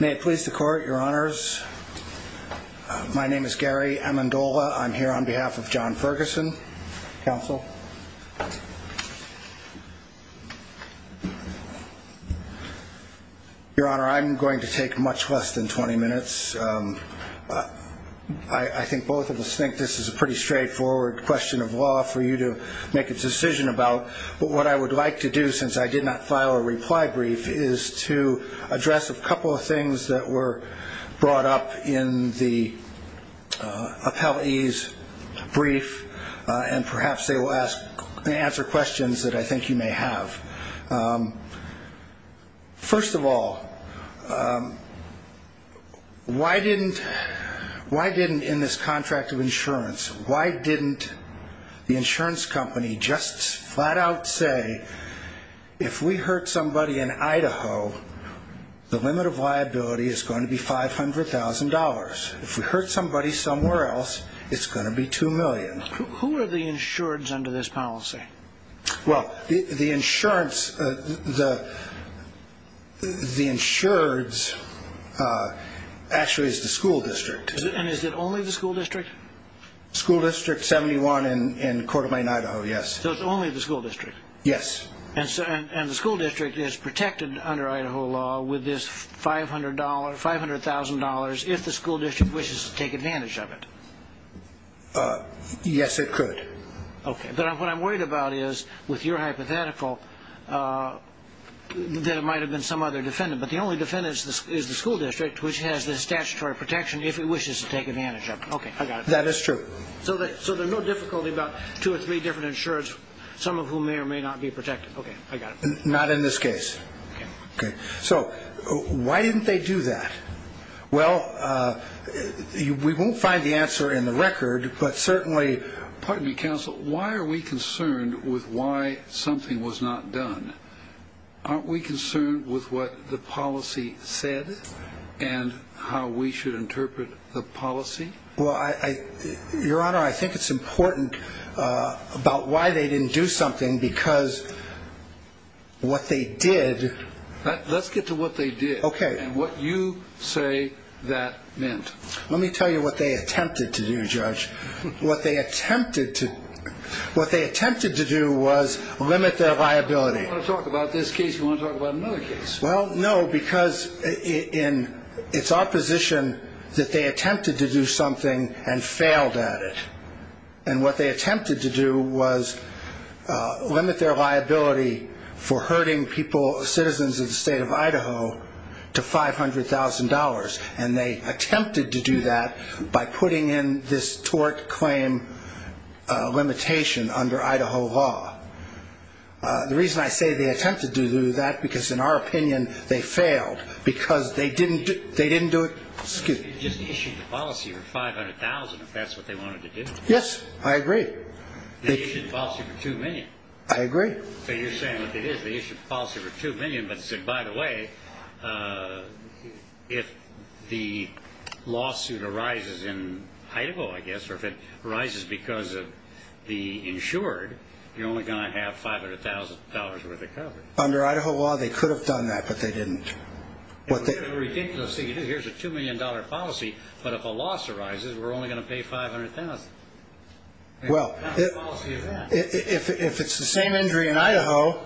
May it please the court, your honors. My name is Gary Amendola. I'm here on behalf of John Ferguson, counsel. Your honor, I'm going to take much less than 20 minutes. I think both of us think this is a pretty straightforward question of law for you to make a decision about. What I would like to do, since I did not file a reply brief, is to address a couple of things that were brought up in the appellee's brief, and perhaps they will answer questions that I think you may have. First of all, why didn't in this contract of insurance, why didn't the insurance company just flat out say, if we hurt somebody in Idaho, the limit of liability is going to be $500,000. If we hurt somebody somewhere else, it's going to be $2 million. Who are the insureds under this policy? Well, the insureds actually is the school district. And is it only the school district? School district 71 in Coeur d'Alene, Idaho, yes. So it's only the school district? Yes. And the school district is protected under Idaho law with this $500,000 if the school district wishes to take advantage of it? Yes, it could. Okay, but what I'm worried about is, with your hypothetical, that it might have been some other defendant. But the only defendant is the school district, which has the statutory protection if it wishes to take advantage of it. Okay, I got it. That is true. So there's no difficulty about two or three different insureds, some of whom may or may not be protected. Okay, I got it. Not in this case. Okay. So why didn't they do that? Well, we won't find the answer in the record, but certainly ‑‑ Pardon me, counsel. Why are we concerned with why something was not done? Aren't we concerned with what the policy said and how we should interpret the policy? Well, Your Honor, I think it's important about why they didn't do something because what they did ‑‑ Let's get to what they did. Okay. And what you say that meant. Let me tell you what they attempted to do, Judge. What they attempted to do was limit their liability. If you want to talk about this case, you want to talk about another case. Well, no, because it's opposition that they attempted to do something and failed at it. And what they attempted to do was limit their liability for hurting people, citizens of the State of Idaho to $500,000. And they attempted to do that by putting in this tort claim limitation under Idaho law. The reason I say they attempted to do that, because in our opinion they failed, because they didn't do it ‑‑ Yes, I agree. They issued the policy for $2 million. I agree. So you're saying what it is, they issued the policy for $2 million, but said, by the way, if the lawsuit arises in Idaho, I guess, or if it arises because of the insured, you're only going to have $500,000 worth of coverage. Under Idaho law, they could have done that, but they didn't. It's a ridiculous thing to do. Here's a $2 million policy, but if a loss arises, we're only going to pay $500,000. Well, if it's the same injury in Idaho,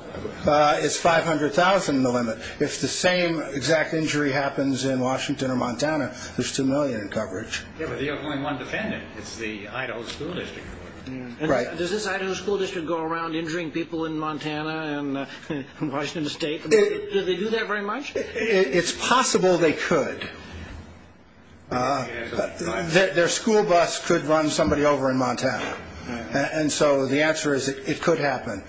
it's $500,000 the limit. If the same exact injury happens in Washington or Montana, there's $2 million in coverage. Yeah, but they have only one defendant. It's the Idaho school district. Right. Does this Idaho school district go around injuring people in Montana and Washington State? Do they do that very much? It's possible they could. Their school bus could run somebody over in Montana. And so the answer is it could happen.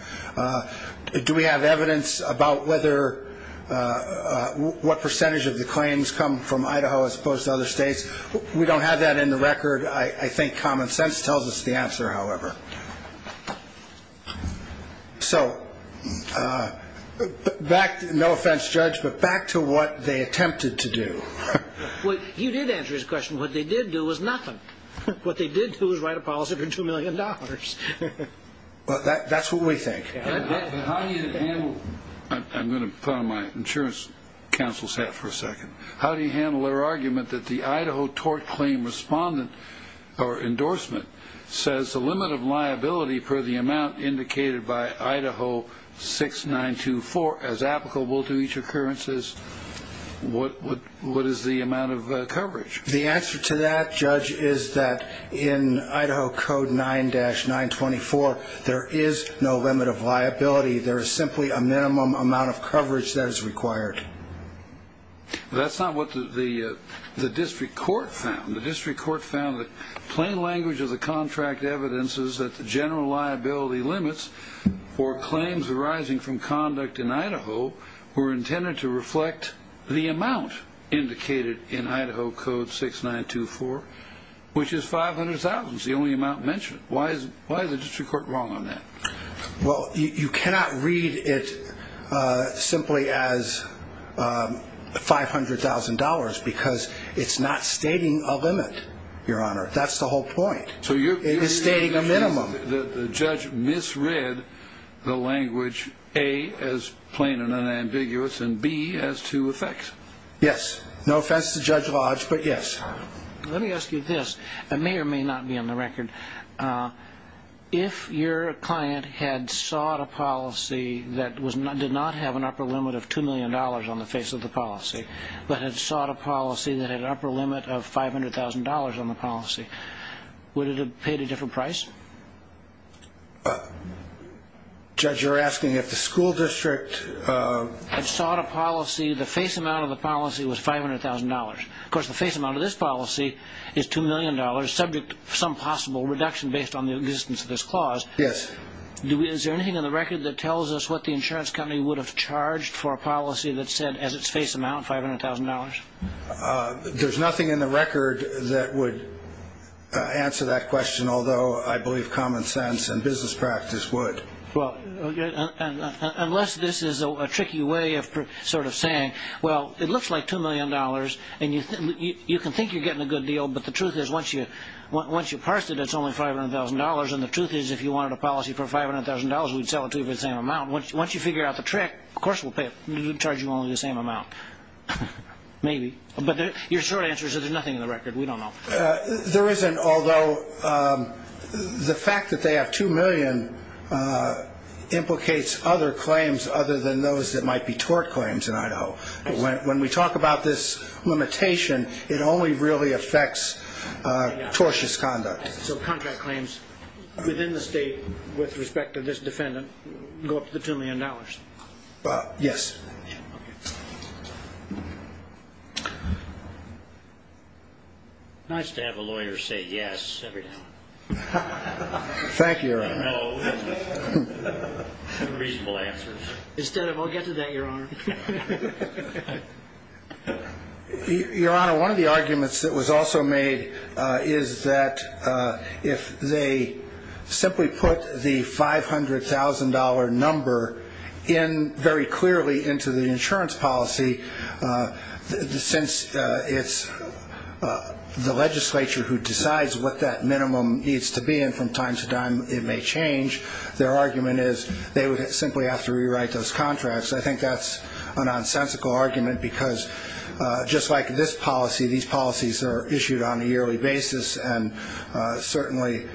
Do we have evidence about what percentage of the claims come from Idaho as opposed to other states? We don't have that in the record. I think common sense tells us the answer, however. So back, no offense, Judge, but back to what they attempted to do. You did answer his question. What they did do was nothing. What they did do was write a policy for $2 million. That's what we think. I'm going to put on my insurance counsel's hat for a second. How do you handle their argument that the Idaho tort claim respondent or endorsement says the limit of liability per the amount indicated by Idaho 6924 as applicable to each occurrence is? What is the amount of coverage? The answer to that, Judge, is that in Idaho Code 9-924, there is no limit of liability. There is simply a minimum amount of coverage that is required. That's not what the district court found. The district court found that plain language of the contract evidence is that the general liability limits for claims arising from conduct in Idaho were intended to reflect the amount indicated in Idaho Code 6924, which is $500,000, the only amount mentioned. Why is the district court wrong on that? Well, you cannot read it simply as $500,000 because it's not stating a limit, Your Honor. That's the whole point. It is stating a minimum. The judge misread the language, A, as plain and unambiguous, and B, as to effect. Yes. No offense to Judge Lodge, but yes. Let me ask you this. It may or may not be on the record. If your client had sought a policy that did not have an upper limit of $2 million on the face of the policy, but had sought a policy that had an upper limit of $500,000 on the policy, would it have paid a different price? Judge, you're asking if the school district... Had sought a policy, the face amount of the policy was $500,000. Of course, the face amount of this policy is $2 million, subject to some possible reduction based on the existence of this clause. Yes. Is there anything on the record that tells us what the insurance company would have charged for a policy that said, as its face amount, $500,000? There's nothing in the record that would answer that question, although I believe common sense and business practice would. Unless this is a tricky way of sort of saying, well, it looks like $2 million, and you can think you're getting a good deal, but the truth is, once you've parsed it, it's only $500,000. And the truth is, if you wanted a policy for $500,000, we'd sell it to you for the same amount. Once you figure out the trick, of course we'll charge you only the same amount. Maybe. But your short answer is that there's nothing in the record. We don't know. There isn't, although the fact that they have $2 million implicates other claims other than those that might be tort claims in Idaho. When we talk about this limitation, it only really affects tortious conduct. So contract claims within the state with respect to this defendant go up to the $2 million? Yes. It's pretty much to have a lawyer say yes every time. Thank you, Your Honor. No reasonable answers. Instead of, I'll get to that, Your Honor. Your Honor, one of the arguments that was also made is that if they simply put the $500,000 number in very clearly into the insurance policy, since it's the legislature who decides what that minimum needs to be and from time to time it may change, their argument is they would simply have to rewrite those contracts. I think that's a nonsensical argument because just like this policy, these policies are issued on a yearly basis, and certainly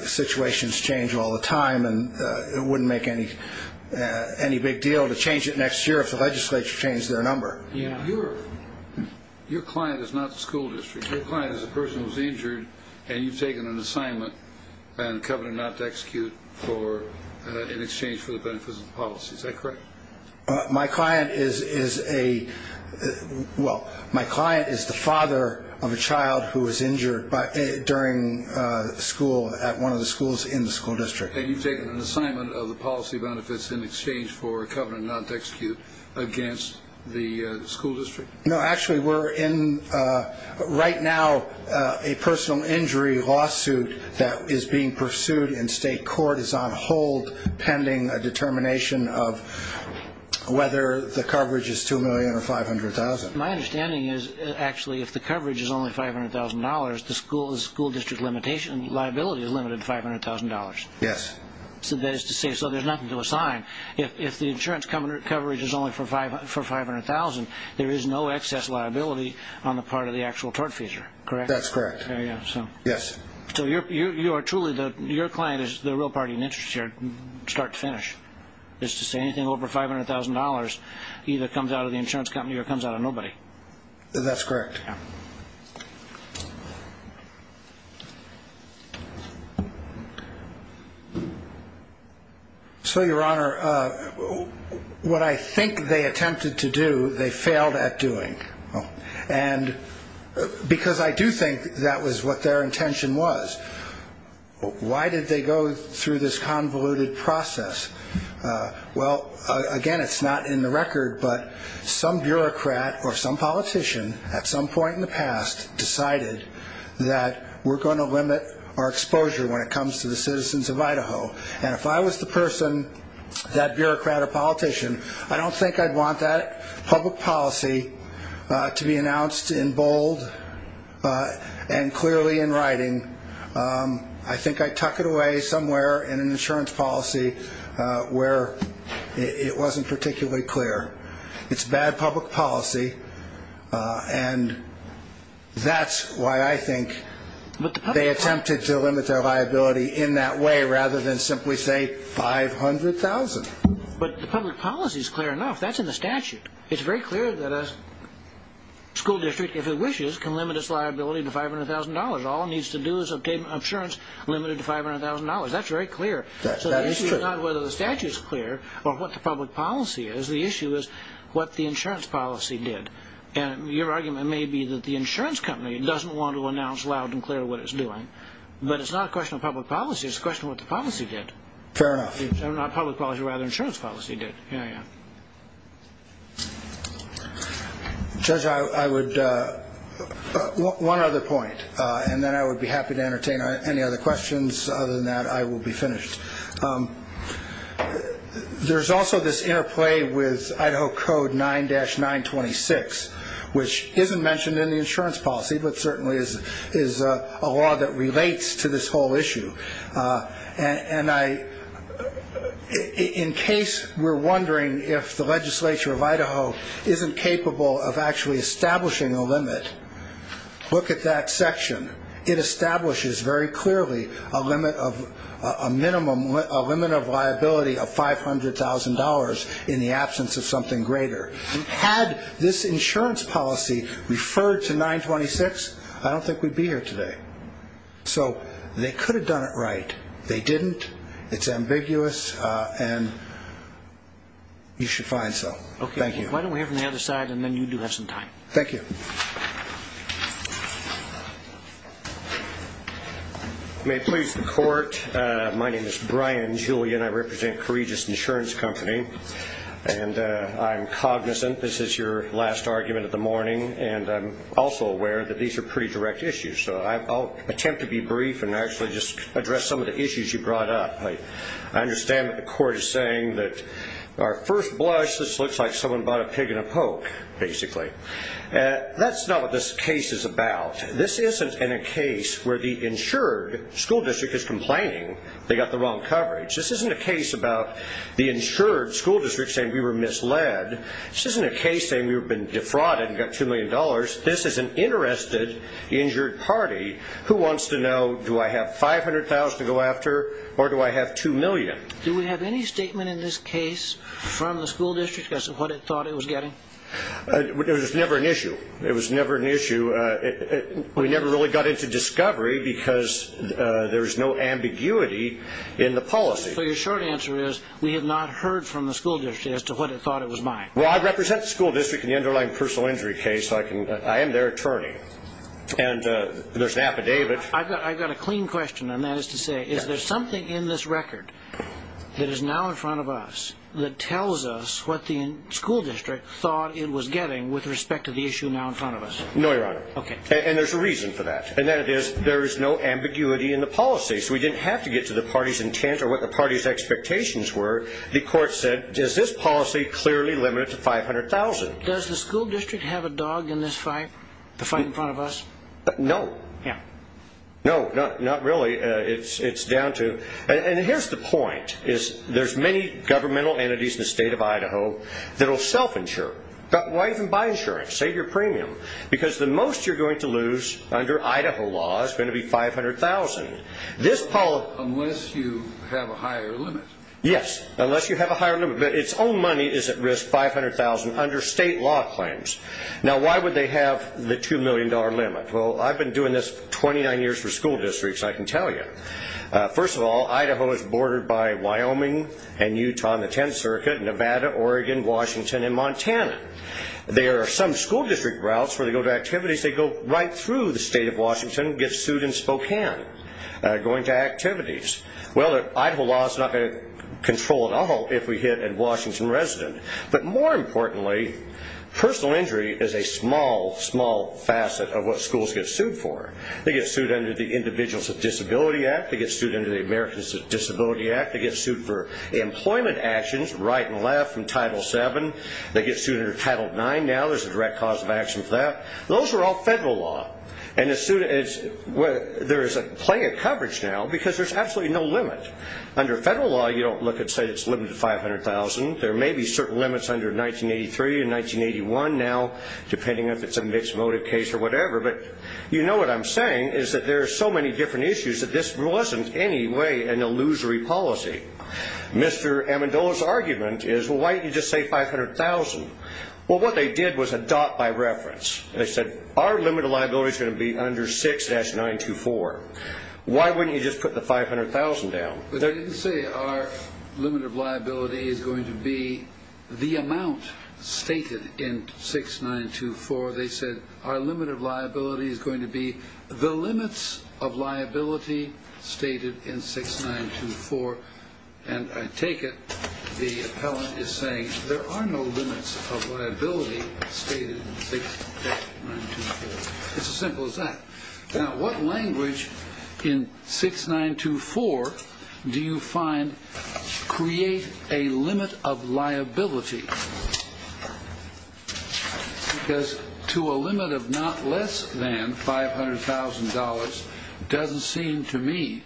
situations change all the time, and it wouldn't make any big deal to change it next year if the legislature changed their number. Your client is not the school district. Your client is a person who's injured, and you've taken an assignment and a covenant not to execute in exchange for the benefits of the policy. Is that correct? My client is a father of a child who was injured during school at one of the schools in the school district. And you've taken an assignment of the policy benefits in exchange for a covenant not to execute against the school district? No, actually we're in right now a personal injury lawsuit that is being pursued in state court. It's on hold pending a determination of whether the coverage is $2 million or $500,000. My understanding is actually if the coverage is only $500,000, the school district liability is limited to $500,000. Yes. That is to say, so there's nothing to assign. If the insurance coverage is only for $500,000, there is no excess liability on the part of the actual tortfeasor, correct? That's correct. Yes. So your client is the real party in interest here, start to finish, is to say anything over $500,000 either comes out of the insurance company or comes out of nobody. That's correct. So, Your Honor, what I think they attempted to do, they failed at doing. And because I do think that was what their intention was, why did they go through this convoluted process? Well, again, it's not in the record, but some bureaucrat or some politician at some point in time decided that we're going to limit our exposure when it comes to the citizens of Idaho. And if I was the person, that bureaucrat or politician, I don't think I'd want that public policy to be announced in bold and clearly in writing. I think I'd tuck it away somewhere in an insurance policy where it wasn't particularly clear. It's bad public policy, and that's why I think they attempted to limit their liability in that way rather than simply say $500,000. But the public policy is clear enough. That's in the statute. It's very clear that a school district, if it wishes, can limit its liability to $500,000. All it needs to do is obtain insurance limited to $500,000. That's very clear. That is true. It's not whether the statute is clear or what the public policy is. The issue is what the insurance policy did. And your argument may be that the insurance company doesn't want to announce loud and clear what it's doing, but it's not a question of public policy. It's a question of what the policy did. Fair enough. Not public policy. Rather, insurance policy did. Yeah, yeah. Judge, I would – one other point, and then I would be happy to entertain any other questions. Other than that, I will be finished. There's also this interplay with Idaho Code 9-926, which isn't mentioned in the insurance policy, but certainly is a law that relates to this whole issue. And in case we're wondering if the legislature of Idaho isn't capable of actually establishing a limit, look at that section. It establishes very clearly a limit of – a minimum – a limit of liability of $500,000 in the absence of something greater. Had this insurance policy referred to 926, I don't think we'd be here today. So they could have done it right. They didn't. It's ambiguous, and you should find some. Okay. Thank you. Why don't we hear from the other side, and then you do have some time. Thank you. May it please the Court, my name is Brian Julian. I represent Coregis Insurance Company, and I'm cognizant this is your last argument of the morning, and I'm also aware that these are pretty direct issues. So I'll attempt to be brief and actually just address some of the issues you brought up. I understand that the Court is saying that our first blush, this looks like someone bought a pig in a poke, basically. That's not what this case is about. This isn't a case where the insured school district is complaining they got the wrong coverage. This isn't a case about the insured school district saying we were misled. This isn't a case saying we've been defrauded and got $2 million. This is an interested injured party who wants to know, do I have $500,000 to go after, or do I have $2 million? Do we have any statement in this case from the school district as to what it thought it was getting? It was never an issue. It was never an issue. We never really got into discovery because there was no ambiguity in the policy. So your short answer is we have not heard from the school district as to what it thought it was buying. Well, I represent the school district in the underlying personal injury case, so I am their attorney. And there's an affidavit. I've got a clean question, and that is to say, is there something in this record that is now in front of us that tells us what the school district thought it was getting with respect to the issue now in front of us? No, Your Honor. Okay. And there's a reason for that, and that is there is no ambiguity in the policy. So we didn't have to get to the party's intent or what the party's expectations were. The court said, does this policy clearly limit it to $500,000? Does the school district have a dog in this fight, the fight in front of us? No. Yeah. No, not really. And here's the point. There's many governmental entities in the state of Idaho that will self-insure. Why even buy insurance? Save your premium. Because the most you're going to lose under Idaho law is going to be $500,000. Unless you have a higher limit. Yes, unless you have a higher limit. But its own money is at risk, $500,000, under state law claims. Now, why would they have the $2 million limit? Well, I've been doing this 29 years for school districts, I can tell you. First of all, Idaho is bordered by Wyoming and Utah on the 10th Circuit, and Nevada, Oregon, Washington, and Montana. There are some school district routes where they go to activities, they go right through the state of Washington, get sued in Spokane, going to activities. Well, Idaho law is not going to control at all if we hit a Washington resident. But more importantly, personal injury is a small, small facet of what schools get sued for. They get sued under the Individuals with Disabilities Act. They get sued under the Americans with Disabilities Act. They get sued for employment actions, right and left, from Title VII. They get sued under Title IX now. There's a direct cause of action for that. Those are all federal law. And there's plenty of coverage now because there's absolutely no limit. There may be certain limits under 1983 and 1981 now, depending on if it's a mixed motive case or whatever. But you know what I'm saying is that there are so many different issues that this wasn't in any way an illusory policy. Mr. Amendola's argument is, well, why didn't you just say 500,000? Well, what they did was adopt by reference. They said, our limit of liability is going to be under 6-924. Why wouldn't you just put the 500,000 down? I didn't say our limit of liability is going to be the amount stated in 6-924. They said our limit of liability is going to be the limits of liability stated in 6-924. And I take it the appellant is saying there are no limits of liability stated in 6-924. It's as simple as that. Now, what language in 6-924 do you find create a limit of liability? Because to a limit of not less than $500,000 doesn't seem to me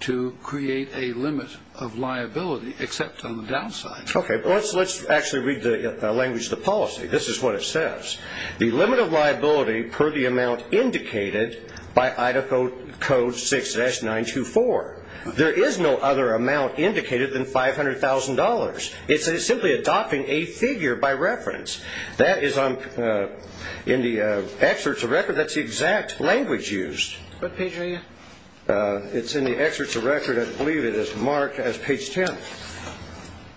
to create a limit of liability, except on the downside. Okay. Let's actually read the language of the policy. This is what it says. The limit of liability per the amount indicated by Idaho Code 6-924. There is no other amount indicated than $500,000. It's simply adopting a figure by reference. That is in the excerpts of record. That's the exact language used. What page are you? It's in the excerpts of record. I believe it is marked as page 10.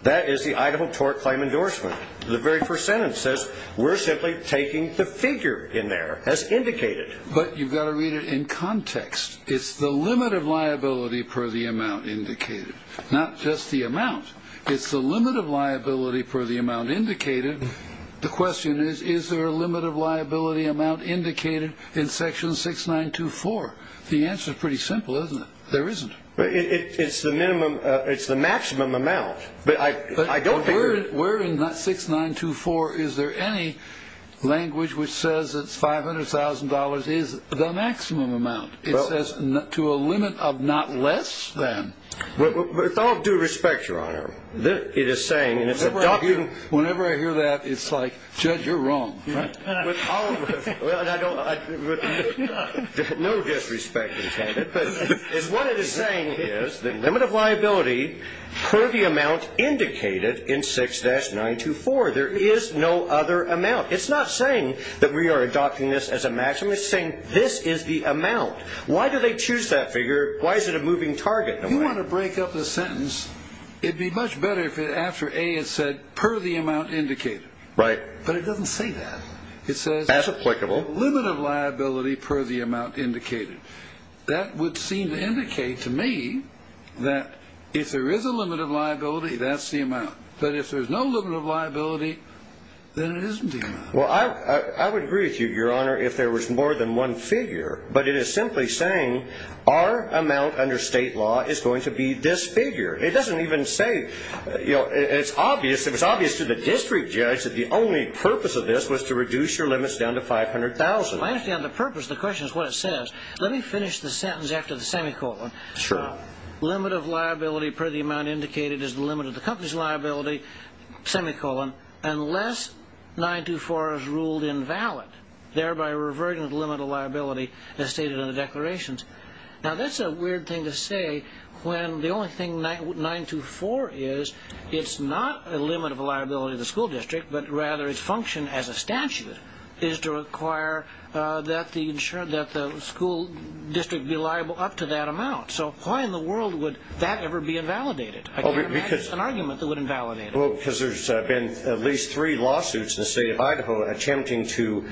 That is the Idaho tort claim endorsement. The very first sentence says we're simply taking the figure in there as indicated. But you've got to read it in context. It's the limit of liability per the amount indicated, not just the amount. It's the limit of liability per the amount indicated. The question is, is there a limit of liability amount indicated in section 6-924? The answer is pretty simple, isn't it? There isn't. It's the maximum amount. Where in that 6-924 is there any language which says that $500,000 is the maximum amount? It says to a limit of not less than. With all due respect, Your Honor, it is saying, and it's adopting. Whenever I hear that, it's like, Judge, you're wrong. No disrespect intended, but what it is saying is the limit of liability per the amount indicated in 6-924. There is no other amount. It's not saying that we are adopting this as a maximum. It's saying this is the amount. Why do they choose that figure? Why is it a moving target? If you want to break up the sentence, it would be much better if after A it said per the amount indicated. Right. But it doesn't say that. It says limit of liability per the amount indicated. That would seem to indicate to me that if there is a limit of liability, that's the amount. But if there's no limit of liability, then it isn't the amount. Well, I would agree with you, Your Honor, if there was more than one figure. But it is simply saying our amount under state law is going to be this figure. It doesn't even say. It's obvious to the district judge that the only purpose of this was to reduce your limits down to $500,000. I understand the purpose. The question is what it says. Let me finish the sentence after the semicolon. Sure. Limit of liability per the amount indicated is the limit of the company's liability, semicolon, unless 924 is ruled invalid, thereby reverting the limit of liability as stated in the declarations. Now, that's a weird thing to say when the only thing 924 is, it's not a limit of liability to the school district, but rather its function as a statute is to require that the school district be liable up to that amount. So why in the world would that ever be invalidated? I can't imagine an argument that would invalidate it. Well, because there's been at least three lawsuits in the state of Idaho attempting to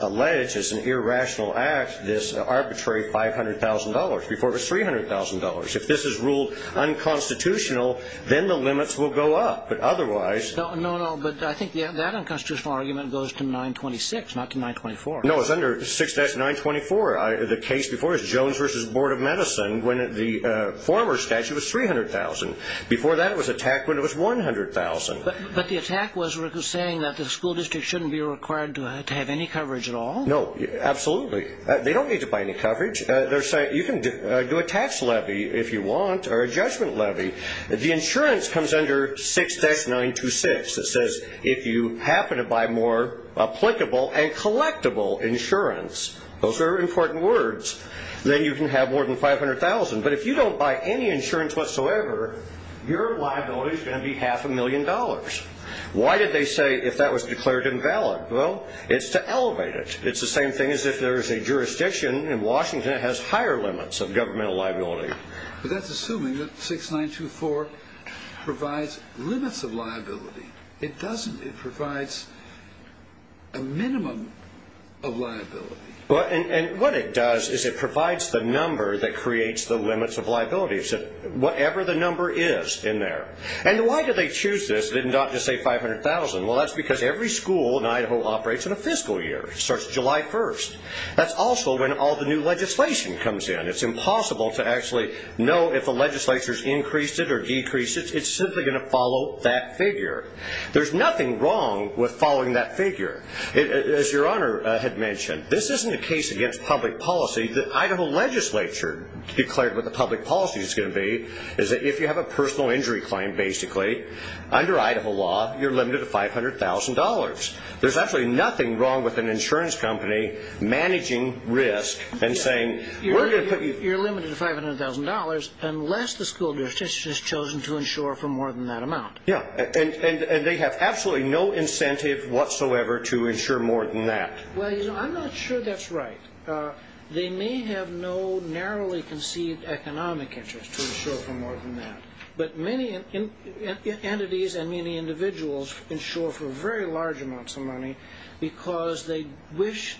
allege, as an irrational act, this arbitrary $500,000 before it was $300,000. If this is ruled unconstitutional, then the limits will go up. But otherwise – No, no, no. But I think that unconstitutional argument goes to 926, not to 924. No, it's under 6-924. The case before is Jones v. Board of Medicine when the former statute was 300,000. Before that, it was attacked when it was 100,000. But the attack was saying that the school district shouldn't be required to have any coverage at all? No, absolutely. They don't need to buy any coverage. You can do a tax levy if you want or a judgment levy. The insurance comes under 6-926. It says if you happen to buy more applicable and collectible insurance – those are important words – then you can have more than 500,000. But if you don't buy any insurance whatsoever, your liability is going to be half a million dollars. Why did they say if that was declared invalid? Well, it's to elevate it. It's the same thing as if there is a jurisdiction in Washington that has higher limits of governmental liability. But that's assuming that 6-924 provides limits of liability. It doesn't. It provides a minimum of liability. And what it does is it provides the number that creates the limits of liability, whatever the number is in there. And why did they choose this and not just say 500,000? Well, that's because every school in Idaho operates in a fiscal year. It starts July 1st. That's also when all the new legislation comes in. It's impossible to actually know if the legislature has increased it or decreased it. It's simply going to follow that figure. There's nothing wrong with following that figure. As Your Honor had mentioned, this isn't a case against public policy. The Idaho legislature declared what the public policy is going to be, is that if you have a personal injury claim, basically, under Idaho law, you're limited to $500,000. There's absolutely nothing wrong with an insurance company managing risk and saying we're going to put you. You're limited to $500,000 unless the school jurisdiction has chosen to insure for more than that amount. Yeah, and they have absolutely no incentive whatsoever to insure more than that. Well, you know, I'm not sure that's right. They may have no narrowly conceived economic interest to insure for more than that, but many entities and many individuals insure for very large amounts of money because they wish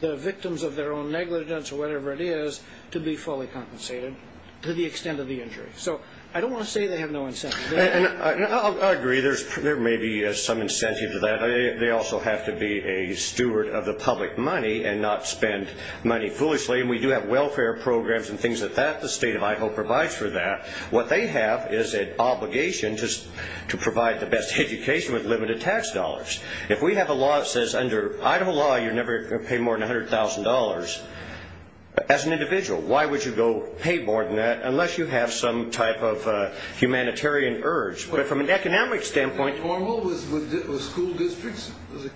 the victims of their own negligence or whatever it is to be fully compensated to the extent of the injury. So I don't want to say they have no incentive. I agree there may be some incentive to that. They also have to be a steward of the public money and not spend money foolishly. We do have welfare programs and things like that. The state of Idaho provides for that. What they have is an obligation to provide the best education with limited tax dollars. If we have a law that says under Idaho law you're never going to pay more than $100,000, as an individual, why would you go pay more than that unless you have some type of humanitarian urge? But from an economic standpoint- Well, isn't that normal with school districts?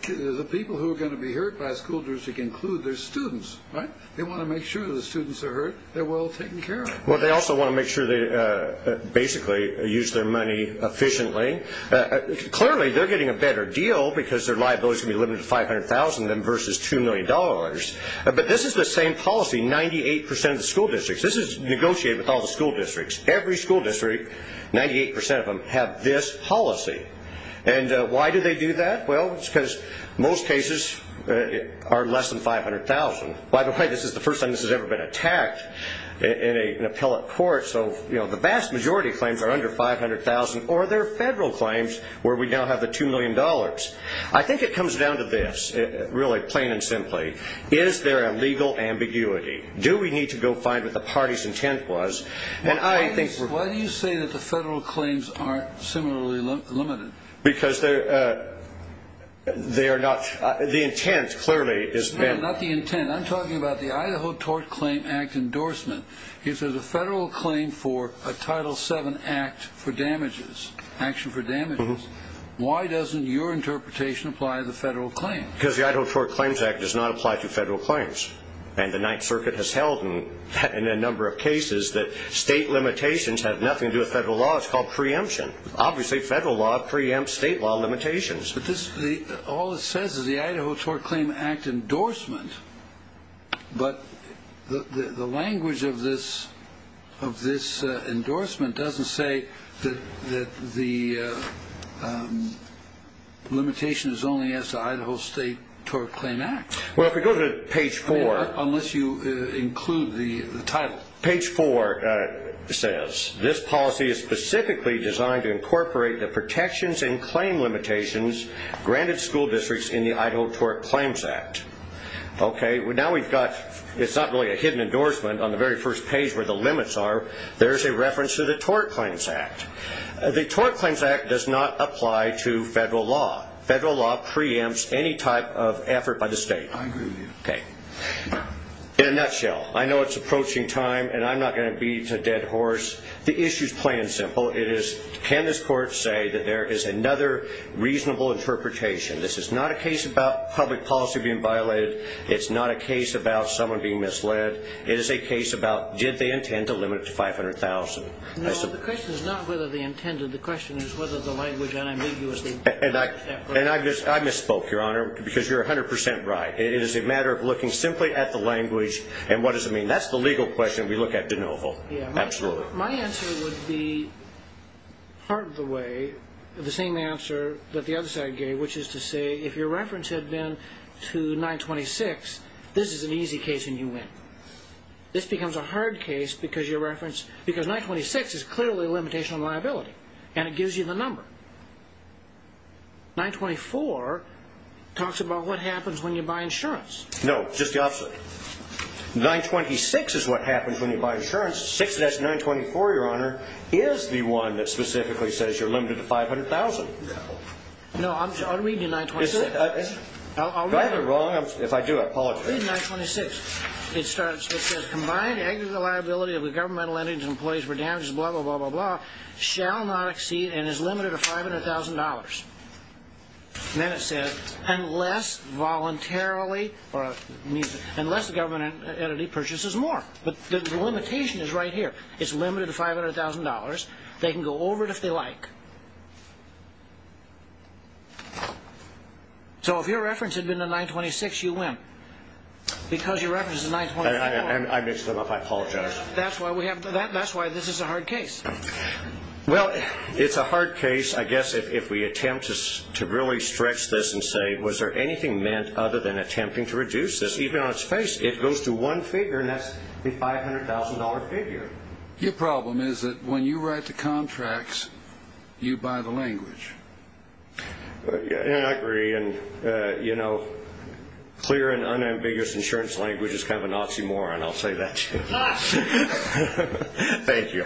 The people who are going to be hurt by school districts include their students, right? They want to make sure the students are hurt, they're well taken care of. Well, they also want to make sure they basically use their money efficiently. Clearly, they're getting a better deal because their liability is going to be limited to $500,000 versus $2 million. But this is the same policy. 98% of the school districts-this is negotiated with all the school districts. Every school district, 98% of them, have this policy. And why do they do that? Well, it's because most cases are less than $500,000. By the way, this is the first time this has ever been attacked in an appellate court. So the vast majority of claims are under $500,000. Or there are federal claims where we now have the $2 million. I think it comes down to this, really, plain and simply. Is there a legal ambiguity? Do we need to go find what the party's intent was? And I think- Why do you say that the federal claims aren't similarly limited? Because they are not-the intent, clearly, is- No, not the intent. I'm talking about the Idaho Tort Claim Act endorsement. If there's a federal claim for a Title VII Act for damages, action for damages, why doesn't your interpretation apply to the federal claim? Because the Idaho Tort Claims Act does not apply to federal claims. And the Ninth Circuit has held, in a number of cases, that state limitations have nothing to do with federal law. It's called preemption. Obviously, federal law preempts state law limitations. But all it says is the Idaho Tort Claim Act endorsement. But the language of this endorsement doesn't say that the limitation is only as to Idaho State Tort Claim Act. Well, if we go to page four- Unless you include the title. Page four says, this policy is specifically designed to incorporate the protections and claim limitations granted school districts in the Idaho Tort Claims Act. Okay, now we've got- It's not really a hidden endorsement on the very first page where the limits are. There's a reference to the Tort Claims Act. The Tort Claims Act does not apply to federal law. Federal law preempts any type of effort by the state. I agree with you. Okay. In a nutshell, I know it's approaching time, and I'm not going to beat a dead horse. The issue's plain and simple. It is, can this court say that there is another reasonable interpretation? This is not a case about public policy being violated. It's not a case about someone being misled. It is a case about, did they intend to limit it to 500,000? No, the question is not whether they intended. The question is whether the language unambiguously- And I misspoke, Your Honor, because you're 100% right. It is a matter of looking simply at the language and what does it mean. That's the legal question we look at de novo. Absolutely. My answer would be part of the way, the same answer that the other side gave, which is to say if your reference had been to 926, this is an easy case and you win. This becomes a hard case because your reference, because 926 is clearly a limitation on liability, and it gives you the number. 924 talks about what happens when you buy insurance. No, just the opposite. 926 is what happens when you buy insurance. Your reference to 6-924, Your Honor, is the one that specifically says you're limited to 500,000. No. No, I'll read you 926. I'll read it. Do I have it wrong? If I do, I apologize. Read 926. It starts, it says, Combined aggregate liability of the governmental entities and employees for damages, blah, blah, blah, blah, blah, shall not exceed and is limited to $500,000. And then it says, Unless voluntarily, or it means unless the government entity purchases more. But the limitation is right here. It's limited to $500,000. They can go over it if they like. So if your reference had been to 926, you win. Because your reference is 924. I mixed them up. I apologize. That's why this is a hard case. Well, it's a hard case, I guess, if we attempt to really stretch this and say, Was there anything meant other than attempting to reduce this? Even on its face, it goes to one figure, and that's the $500,000 figure. Your problem is that when you write the contracts, you buy the language. I agree. And, you know, clear and unambiguous insurance language is kind of an oxymoron. I'll tell you that. Thank you.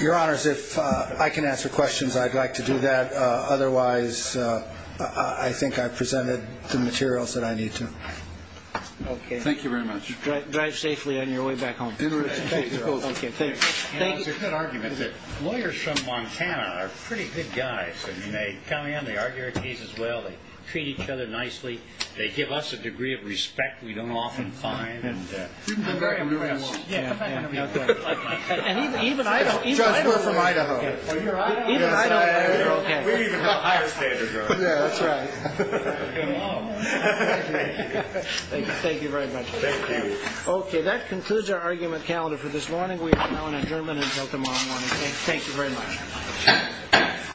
Your Honors, if I can answer questions, I'd like to do that. Otherwise, I think I've presented the materials that I need to. Okay. Thank you very much. Drive safely on your way back home. Thank you. It's a good argument that lawyers from Montana are pretty good guys. I mean, they come in. They treat each other nicely. They give us a lot of credit. They give us a degree of respect we don't often find. You can come back and do anything you want. And even Idaho. It's just we're from Idaho. Even Idaho lawyers are okay. We even have a higher standard. That's right. Thank you very much. Thank you. Okay. That concludes our argument calendar for this morning. We are now adjourned until tomorrow morning. Thank you very much.